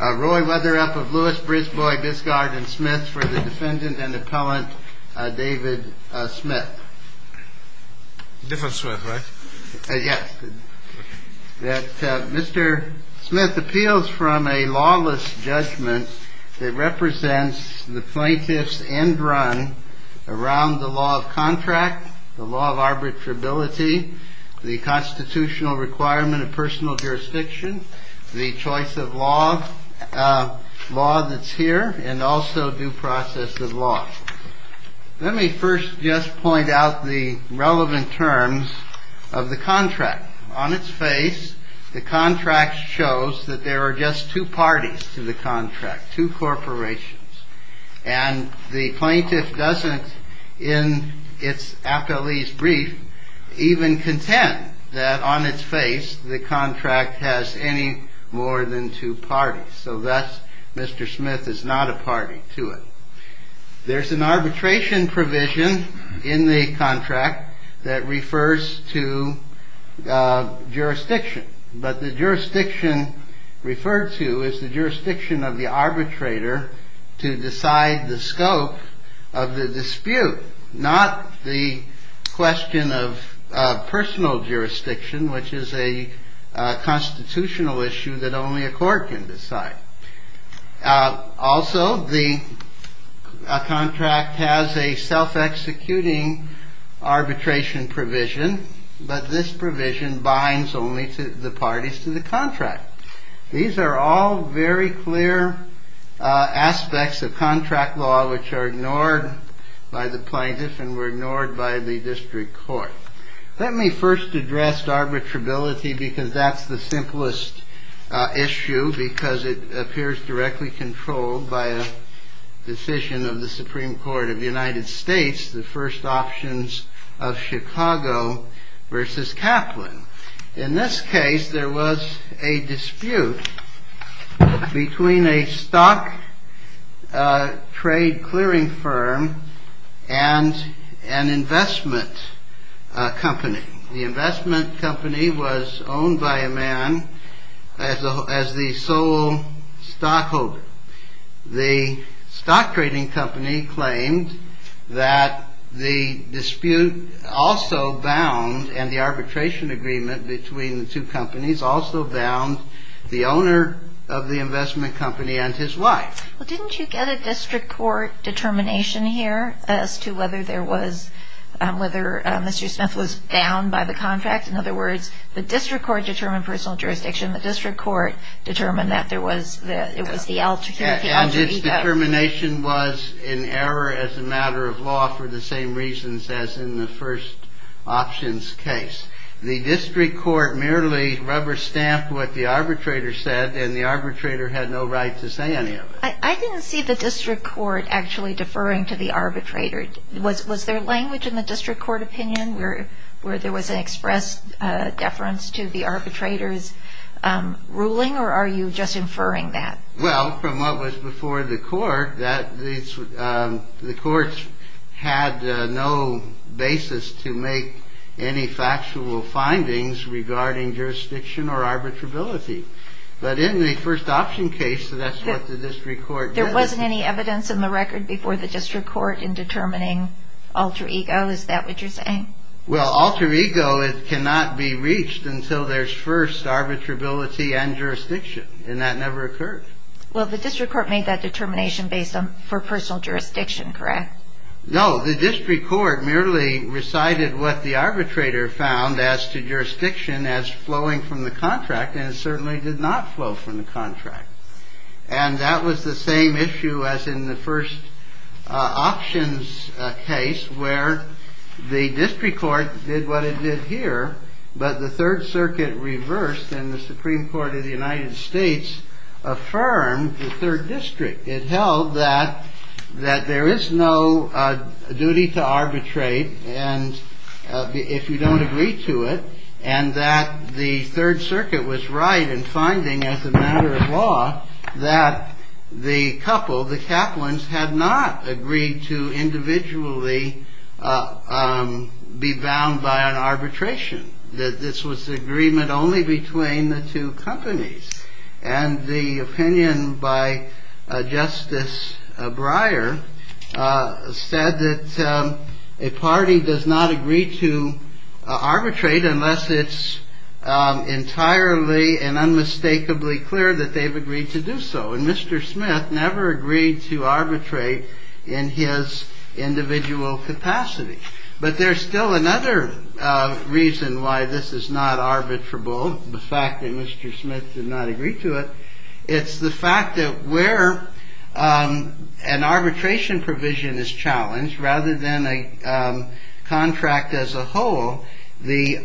Roy Weatherup of Lewis, Brisbois, Biscard, and Smith for the defendant and appellant, David Smith. Different Smith, right? Yes. Mr. Smith appeals from a lawless judgment that represents the plaintiff's end run around the law of contract, the law of arbitrability, the constitutional requirement of personal jurisdiction, the choice of law that's here, and also due process of law. Let me first just point out the relevant terms of the contract. On its face, the contract shows that there are just two parties to the contract, two corporations. And the plaintiff doesn't, in its appellee's brief, even contend that on its face, the contract has any more than two parties. So that, Mr. Smith, is not a party to it. There's an arbitration provision in the contract that refers to jurisdiction. But the jurisdiction referred to is the jurisdiction of the arbitrator to decide the scope of the dispute, not the question of personal jurisdiction, which is a constitutional issue that only a court can decide. Also, the contract has a self-executing arbitration provision, but this provision binds only to the parties to the contract. These are all very clear aspects of contract law which are ignored by the plaintiff and were ignored by the district court. Let me first address arbitrability, because that's the simplest issue, because it appears directly controlled by a decision of the Supreme Court of the United States, the first options of Chicago versus Kaplan. In this case, there was a dispute between a stock trade clearing firm and an investment company. The investment company was owned by a man as the sole stockholder. The stock trading company claimed that the dispute also bound, and the arbitration agreement between the two companies also bound, the owner of the investment company and his wife. Well, didn't you get a district court determination here as to whether there was, whether Mr. Smith was bound by the contract? In other words, the district court determined personal jurisdiction. And its determination was in error as a matter of law for the same reasons as in the first options case. The district court merely rubber-stamped what the arbitrator said, and the arbitrator had no right to say any of it. I didn't see the district court actually deferring to the arbitrator. Was there language in the district court opinion where there was an express deference to the arbitrator's position? Or are you just inferring that? Well, from what was before the court, the courts had no basis to make any factual findings regarding jurisdiction or arbitrability. But in the first option case, that's what the district court did. There wasn't any evidence in the record before the district court in determining alter ego? Is that what you're saying? Well, alter ego, it cannot be reached until there's first arbitrability and jurisdiction, and that never occurred. Well, the district court made that determination based on, for personal jurisdiction, correct? No, the district court merely recited what the arbitrator found as to jurisdiction as flowing from the contract, and it certainly did not flow from the contract. And that was the same issue as in the first options case where the district court did what it did here, but the Third Circuit reversed and the Supreme Court of the United States affirmed the third district. It held that there is no duty to arbitrate if you don't agree to it, and that the Third Circuit was right in finding as a matter of law that the couple, the Kaplan's, had not agreed to individually be bound by an arbitration, that this was agreement only between the two companies. And the opinion by Justice Breyer said that a party does not agree to arbitrate unless it's entirely and unmistakably clear that they've agreed to do so. And Mr. Smith never agreed to arbitrate in his individual capacity. But there's still another reason why this is not arbitrable, the fact that Mr. Smith did not agree to it. It's the fact that where an arbitration provision is challenged rather than a contract as a whole, the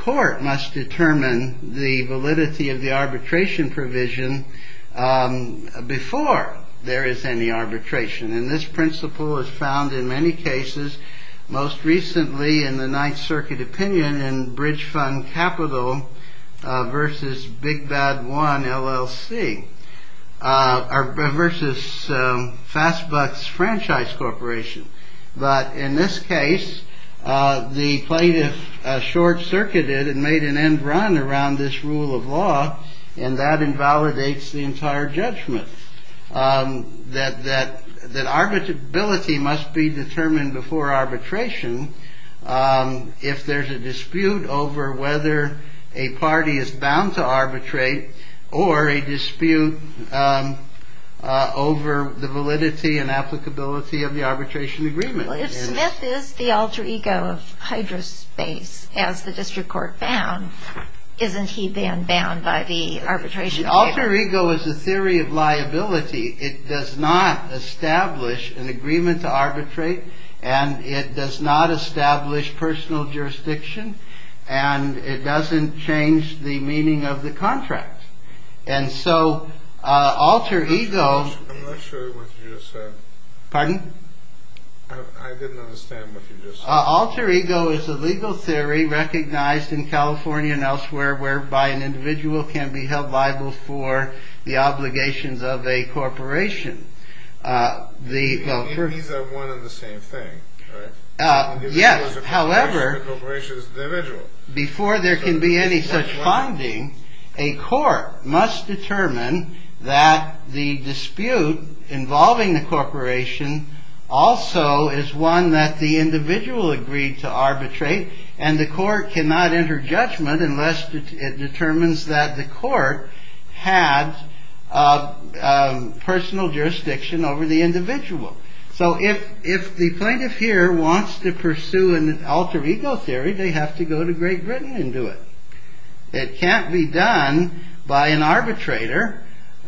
court must determine the validity of the arbitration provision before there is any arbitration. And this principle is found in many cases, most recently in the Ninth Circuit opinion, and Bridge Fund Capital versus Big Bad One LLC versus Fast Bucks Franchise Corporation. But in this case, the plaintiff short circuited and made an end run around this rule of law. And that invalidates the entire judgment that arbitrability must be determined before arbitration if there's a dispute over whether a party is bound to arbitrate or a dispute over the validity and applicability of the arbitration agreement. If Smith is the alter ego of Hydra Space, as the district court found, isn't he then bound by the arbitration? Alter ego is a theory of liability. It does not establish an agreement to arbitrate and it does not establish personal jurisdiction and it doesn't change the meaning of the contract. And so alter ego... I'm not sure what you just said. Pardon? I didn't understand what you just said. Alter ego is a legal theory recognized in California and elsewhere whereby an individual can be held liable for the obligations of a corporation. These are one and the same thing, right? Yes, however, before there can be any such finding, a court must determine that the dispute involving the corporation also is one that the individual agreed to arbitrate and the court cannot enter judgment unless it determines that the court had personal jurisdiction over the individual. So if the plaintiff here wants to pursue an alter ego theory, they have to go to Great Britain and do it. It can't be done by an arbitrator.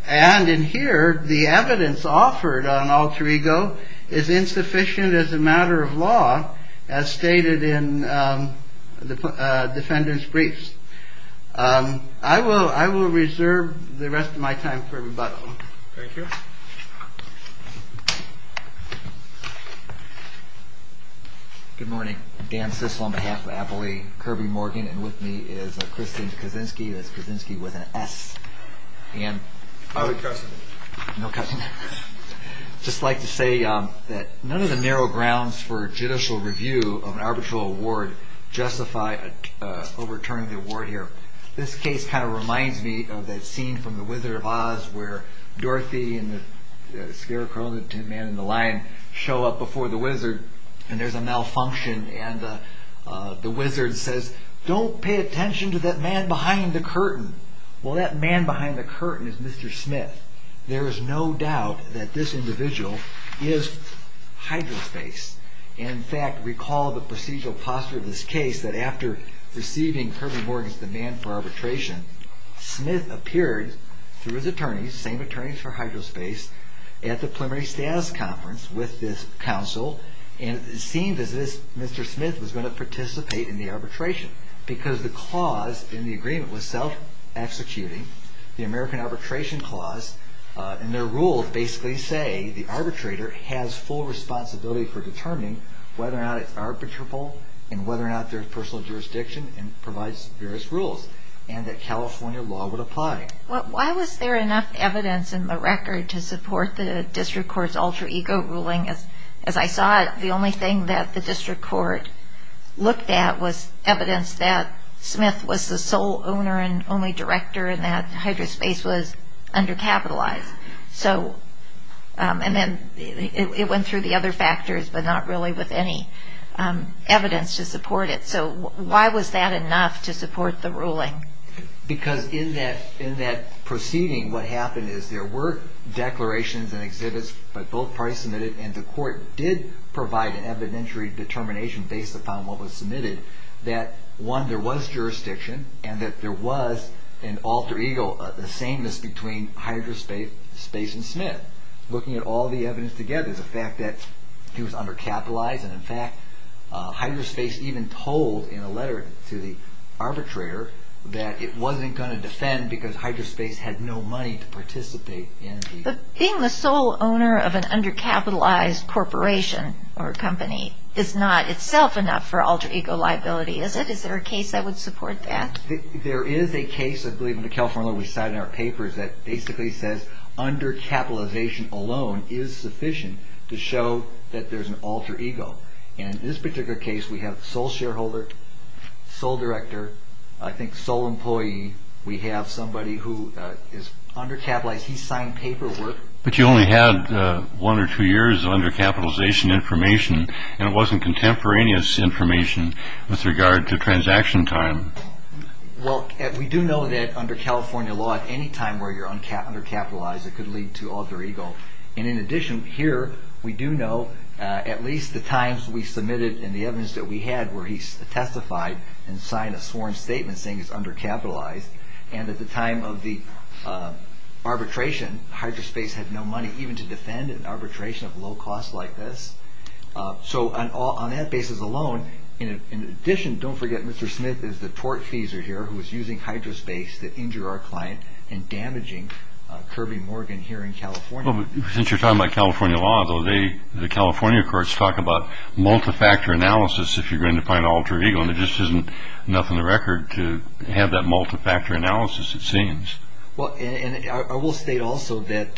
And in here, the evidence offered on alter ego is insufficient as a matter of law, as stated in the defendant's briefs. I will reserve the rest of my time for rebuttal. Thank you. Good morning. Dan Sissel on behalf of Appley, Kirby Morgan, and with me is Christine Kaczynski. That's Kaczynski with an S. I have a question. No question. I'd just like to say that none of the narrow grounds for judicial review of an arbitral award justify overturning the award here. This case kind of reminds me of that scene from The Wizard of Oz where Dorothy and the scarecrow and the man in the lion show up before the wizard and there's a malfunction and the wizard says, don't pay attention to that man behind the curtain. Well, that man behind the curtain is Mr. Smith. There is no doubt that this individual is Hydra Space. In fact, recall the procedural posture of this case, that after receiving Kirby Morgan's demand for arbitration, Smith appeared through his attorneys, same attorneys for Hydra Space, at the preliminary status conference with this counsel and it seemed as if Mr. Smith was going to participate in the arbitration because the clause in the agreement was self-executing, the American Arbitration Clause, and their rules basically say the arbitrator has full responsibility for determining whether or not it's arbitrable and whether or not there's personal jurisdiction and provides various rules and that California law would apply. Why was there enough evidence in the record to support the district court's alter ego ruling? As I saw it, the only thing that the district court looked at was evidence that Smith was the sole owner and only director and that Hydra Space was undercapitalized. It went through the other factors but not really with any evidence to support it. So why was that enough to support the ruling? Because in that proceeding what happened is there were declarations and exhibits that both parties submitted and the court did provide an evidentiary determination based upon what was submitted that one, there was jurisdiction and that there was an alter ego, the sameness between Hydra Space and Smith. Looking at all the evidence together, the fact that he was undercapitalized and in fact Hydra Space even told in a letter to the arbitrator that it wasn't going to defend because Hydra Space had no money to participate. But being the sole owner of an undercapitalized corporation or company is not itself enough for alter ego liability, is it? Is there a case that would support that? There is a case, I believe, in the California law we cite in our papers that basically says undercapitalization alone is sufficient to show that there's an alter ego. In this particular case we have sole shareholder, sole director, I think sole employee. We have somebody who is undercapitalized. He signed paperwork. But you only had one or two years undercapitalization information and it wasn't contemporaneous information with regard to transaction time. We do know that under California law at any time where you're undercapitalized it could lead to alter ego. In addition, here we do know at least the times we submitted and the evidence that we had where he testified and signed a sworn statement saying he's undercapitalized and at the time of the arbitration Hydra Space had no money even to defend an arbitration of low cost like this. So on that basis alone, in addition, don't forget Mr. Smith is the tortfeasor here who is using Hydra Space to injure our client and damaging Kirby Morgan here in California. Since you're talking about California law, though, the California courts talk about multi-factor analysis if you're going to find alter ego and there just isn't enough in the record to have that multi-factor analysis it seems. Well, and I will state also that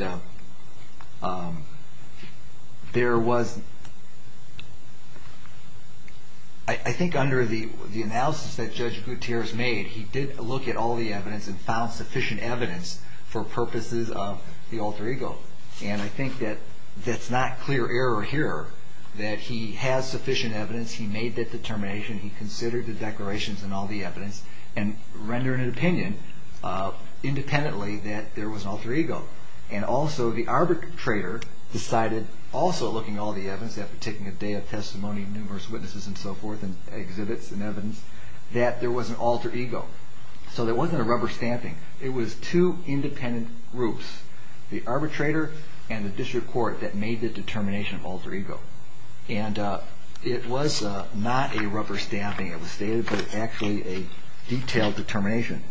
there was, I think under the analysis that Judge Gutierrez made he did look at all the evidence and found sufficient evidence for purposes of the alter ego and I think that that's not clear error here that he has sufficient evidence, he made that determination, he considered the declarations and all the evidence and rendered an opinion independently that there was an alter ego and also the arbitrator decided also looking at all the evidence after taking a day of testimony and numerous witnesses and so forth and exhibits and evidence that there was an alter ego. So there wasn't a rubber stamping, it was two independent groups, the arbitrator and the district court that made the determination of alter ego and it was not a rubber stamping, it was actually a detailed determination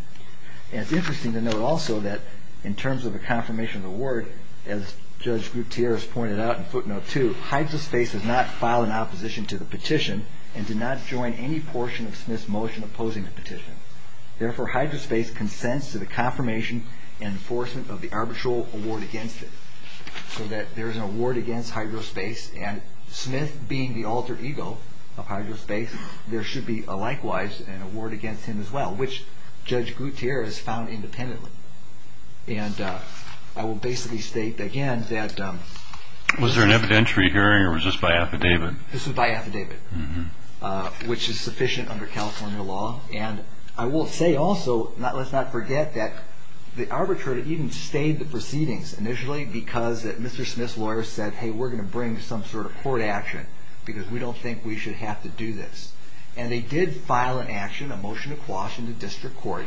and it's interesting to note also that in terms of the confirmation of the word as Judge Gutierrez pointed out in footnote two, Hydrospace does not file an opposition to the petition and did not join any portion of Smith's motion opposing the petition. Therefore, Hydrospace consents to the confirmation and enforcement of the arbitral award against it so that there's an award against Hydrospace and Smith being the alter ego of Hydrospace, there should be likewise an award against him as well which Judge Gutierrez found independently and I will basically state again that... Was there an evidentiary hearing or was this by affidavit? This was by affidavit which is sufficient under California law and I will say also, let's not forget that the arbitrator even stayed the proceedings initially because Mr. Smith's lawyer said, hey, we're going to bring some sort of court action because we don't think we should have to do this and they did file an action, a motion to quash in the district court.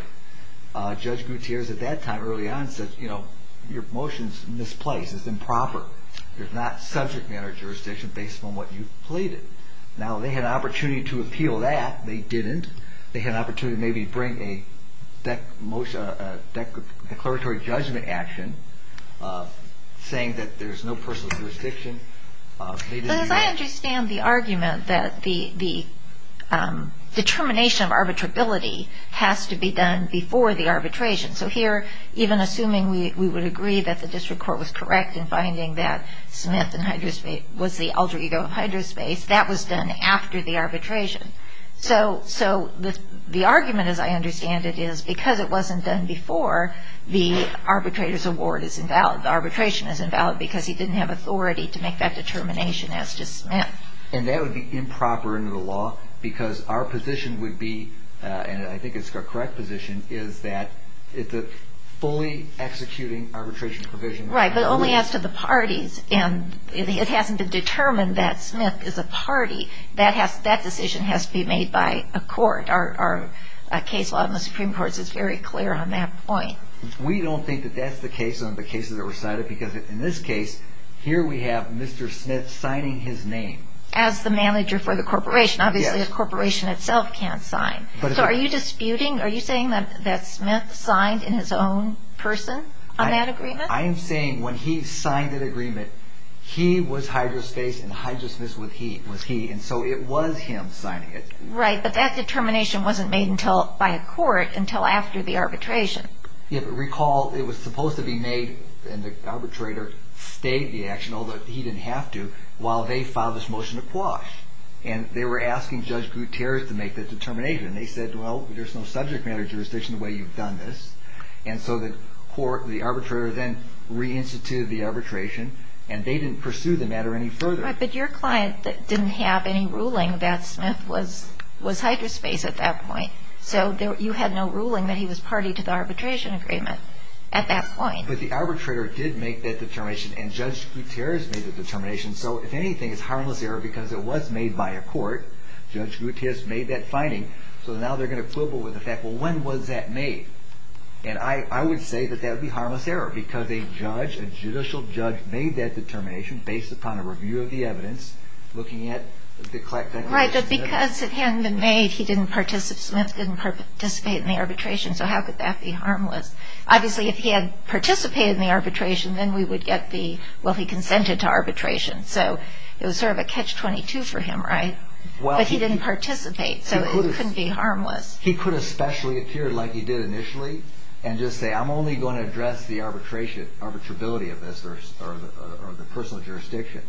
Judge Gutierrez at that time early on said, you know, your motion's misplaced, it's improper. There's not subject matter jurisdiction based on what you've pleaded. Now, they had an opportunity to appeal that, they didn't. They had an opportunity to maybe bring a declaratory judgment action saying that there's no personal jurisdiction. But as I understand the argument that the determination of arbitrability has to be done before the arbitration. So here, even assuming we would agree that the district court was correct in finding that Smith and Hydrospace was the alter ego of Hydrospace, that was done after the arbitration. So the argument, as I understand it, is because it wasn't done before, the arbitrator's award is invalid, the arbitration is invalid because he didn't have authority to make that determination as to Smith. And that would be improper under the law because our position would be, and I think it's a correct position, is that it's a fully executing arbitration provision. Right, but only as to the parties, and it hasn't been determined that Smith is a party. That decision has to be made by a court. Our case law in the Supreme Court is very clear on that point. We don't think that that's the case on the cases that were cited because in this case, here we have Mr. Smith signing his name. As the manager for the corporation. Obviously the corporation itself can't sign. So are you disputing, are you saying that Smith signed in his own person on that agreement? I am saying when he signed that agreement, he was Hydrospace and Hydrospace was he, and so it was him signing it. Right, but that determination wasn't made by a court until after the arbitration. Yeah, but recall it was supposed to be made, and the arbitrator stayed the action, although he didn't have to, while they filed this motion to quash. And they were asking Judge Gutierrez to make that determination, and they said, well, there's no subject matter jurisdiction the way you've done this. And so the arbitrator then reinstituted the arbitration, and they didn't pursue the matter any further. Right, but your client didn't have any ruling that Smith was Hydrospace at that point. So you had no ruling that he was party to the arbitration agreement at that point. But the arbitrator did make that determination, and Judge Gutierrez made the determination. So if anything, it's harmless error because it was made by a court. Judge Gutierrez made that finding, so now they're going to quibble with the fact, well, when was that made? And I would say that that would be harmless error because a judge, a judicial judge, made that determination based upon a review of the evidence, looking at the collected evidence. Right, but because it hadn't been made, he didn't participate in the arbitration, so how could that be harmless? Obviously, if he had participated in the arbitration, then we would get the, well, he consented to arbitration, so it was sort of a catch-22 for him, right? But he didn't participate, so it couldn't be harmless. He could especially appear like he did initially and just say, I'm only going to address the arbitrability of this or the personal jurisdiction,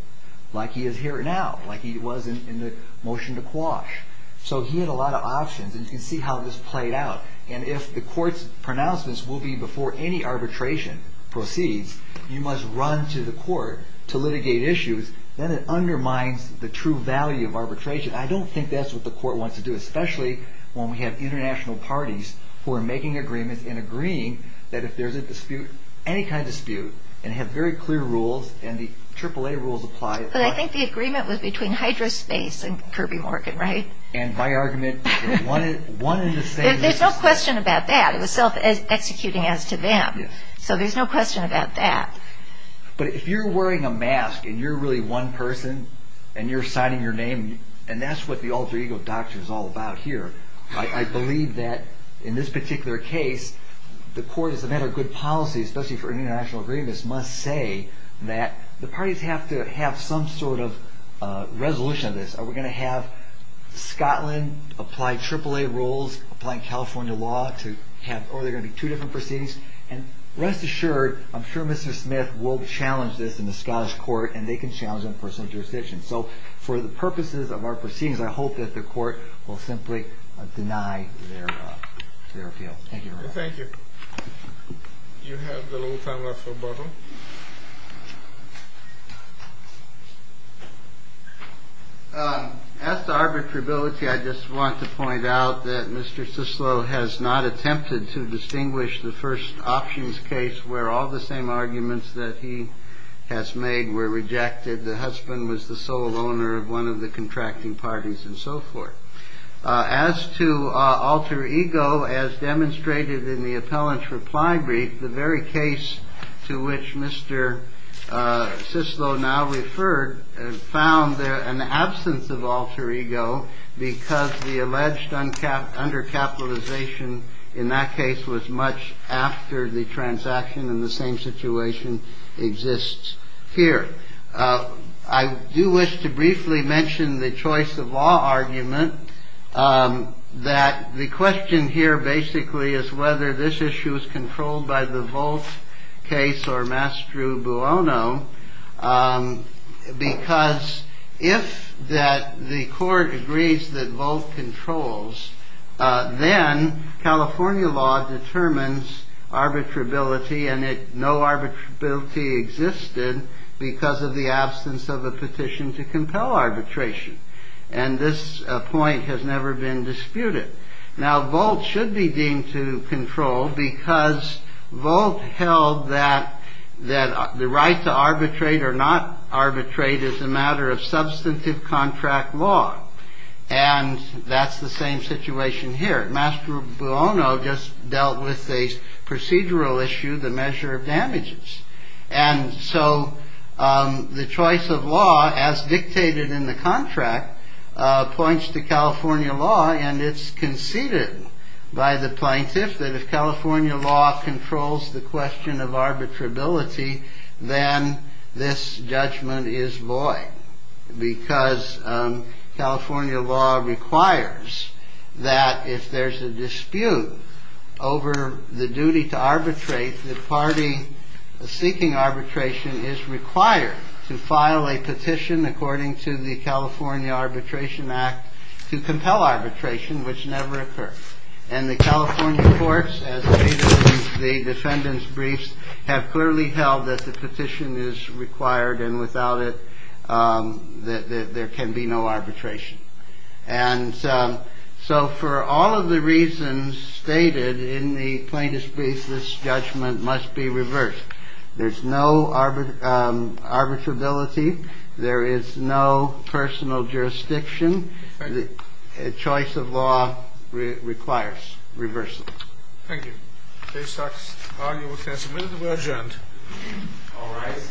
like he is here now, like he was in the motion to quash. So he had a lot of options, and you can see how this played out. And if the court's pronouncements will be before any arbitration proceeds, you must run to the court to litigate issues. Then it undermines the true value of arbitration. I don't think that's what the court wants to do, especially when we have international parties who are making agreements and agreeing that if there's a dispute, any kind of dispute, and have very clear rules, and the AAA rules apply. But I think the agreement was between Hydro Space and Kirby Morgan, right? And my argument, one and the same. There's no question about that. It was self-executing as to them. So there's no question about that. But if you're wearing a mask and you're really one person, and you're signing your name, and that's what the alter ego doctrine is all about here. I believe that in this particular case, the court, as a matter of good policy, especially for an international agreement, must say that the parties have to have some sort of resolution of this. Are we going to have Scotland apply AAA rules, apply California law, or are there going to be two different proceedings? And rest assured, I'm sure Mr. Smith will challenge this in the Scottish court, and they can challenge it in personal jurisdiction. So for the purposes of our proceedings, I hope that the court will simply deny their appeal. Thank you very much. Thank you. You have a little time left for a bottle. As to arbitrability, I just want to point out that Mr. Sislo has not attempted to distinguish the first options case where all the same arguments that he has made were rejected. The husband was the sole owner of one of the contracting parties and so forth. As to alter ego, as demonstrated in the appellant's reply brief, the very case to which Mr. Sislo now referred found there an absence of alter ego because the alleged undercapitalization in that case was much after the transaction in the same situation exists here. I do wish to briefly mention the choice of law argument, that the question here basically is whether this issue is controlled by the Volt case or Mastro Buono, because if the court agrees that Volt controls, then California law determines arbitrability and no arbitrability existed because of the absence of a petition to compel arbitration. And this point has never been disputed. Now, Volt should be deemed to control because Volt held that the right to arbitrate or not arbitrate is a matter of substantive contract law. And that's the same situation here. Mastro Buono just dealt with a procedural issue, the measure of damages. And so the choice of law, as dictated in the contract, points to California law. And it's conceded by the plaintiff that if California law controls the question of arbitrability, then this judgment is void, because California law requires that if there's a dispute over the duty to arbitrate, the party seeking arbitration is required to file a petition, according to the California Arbitration Act, to compel arbitration, which never occurred. And the California courts, as stated in the defendant's briefs, have clearly held that the petition is required, and without it, there can be no arbitration. And so for all of the reasons stated in the plaintiff's brief, this judgment must be reversed. There's no arbitrability. There is no personal jurisdiction. The choice of law requires reversals. Thank you. Case documents are now submitted. We are adjourned. All rise. This court is adjourned.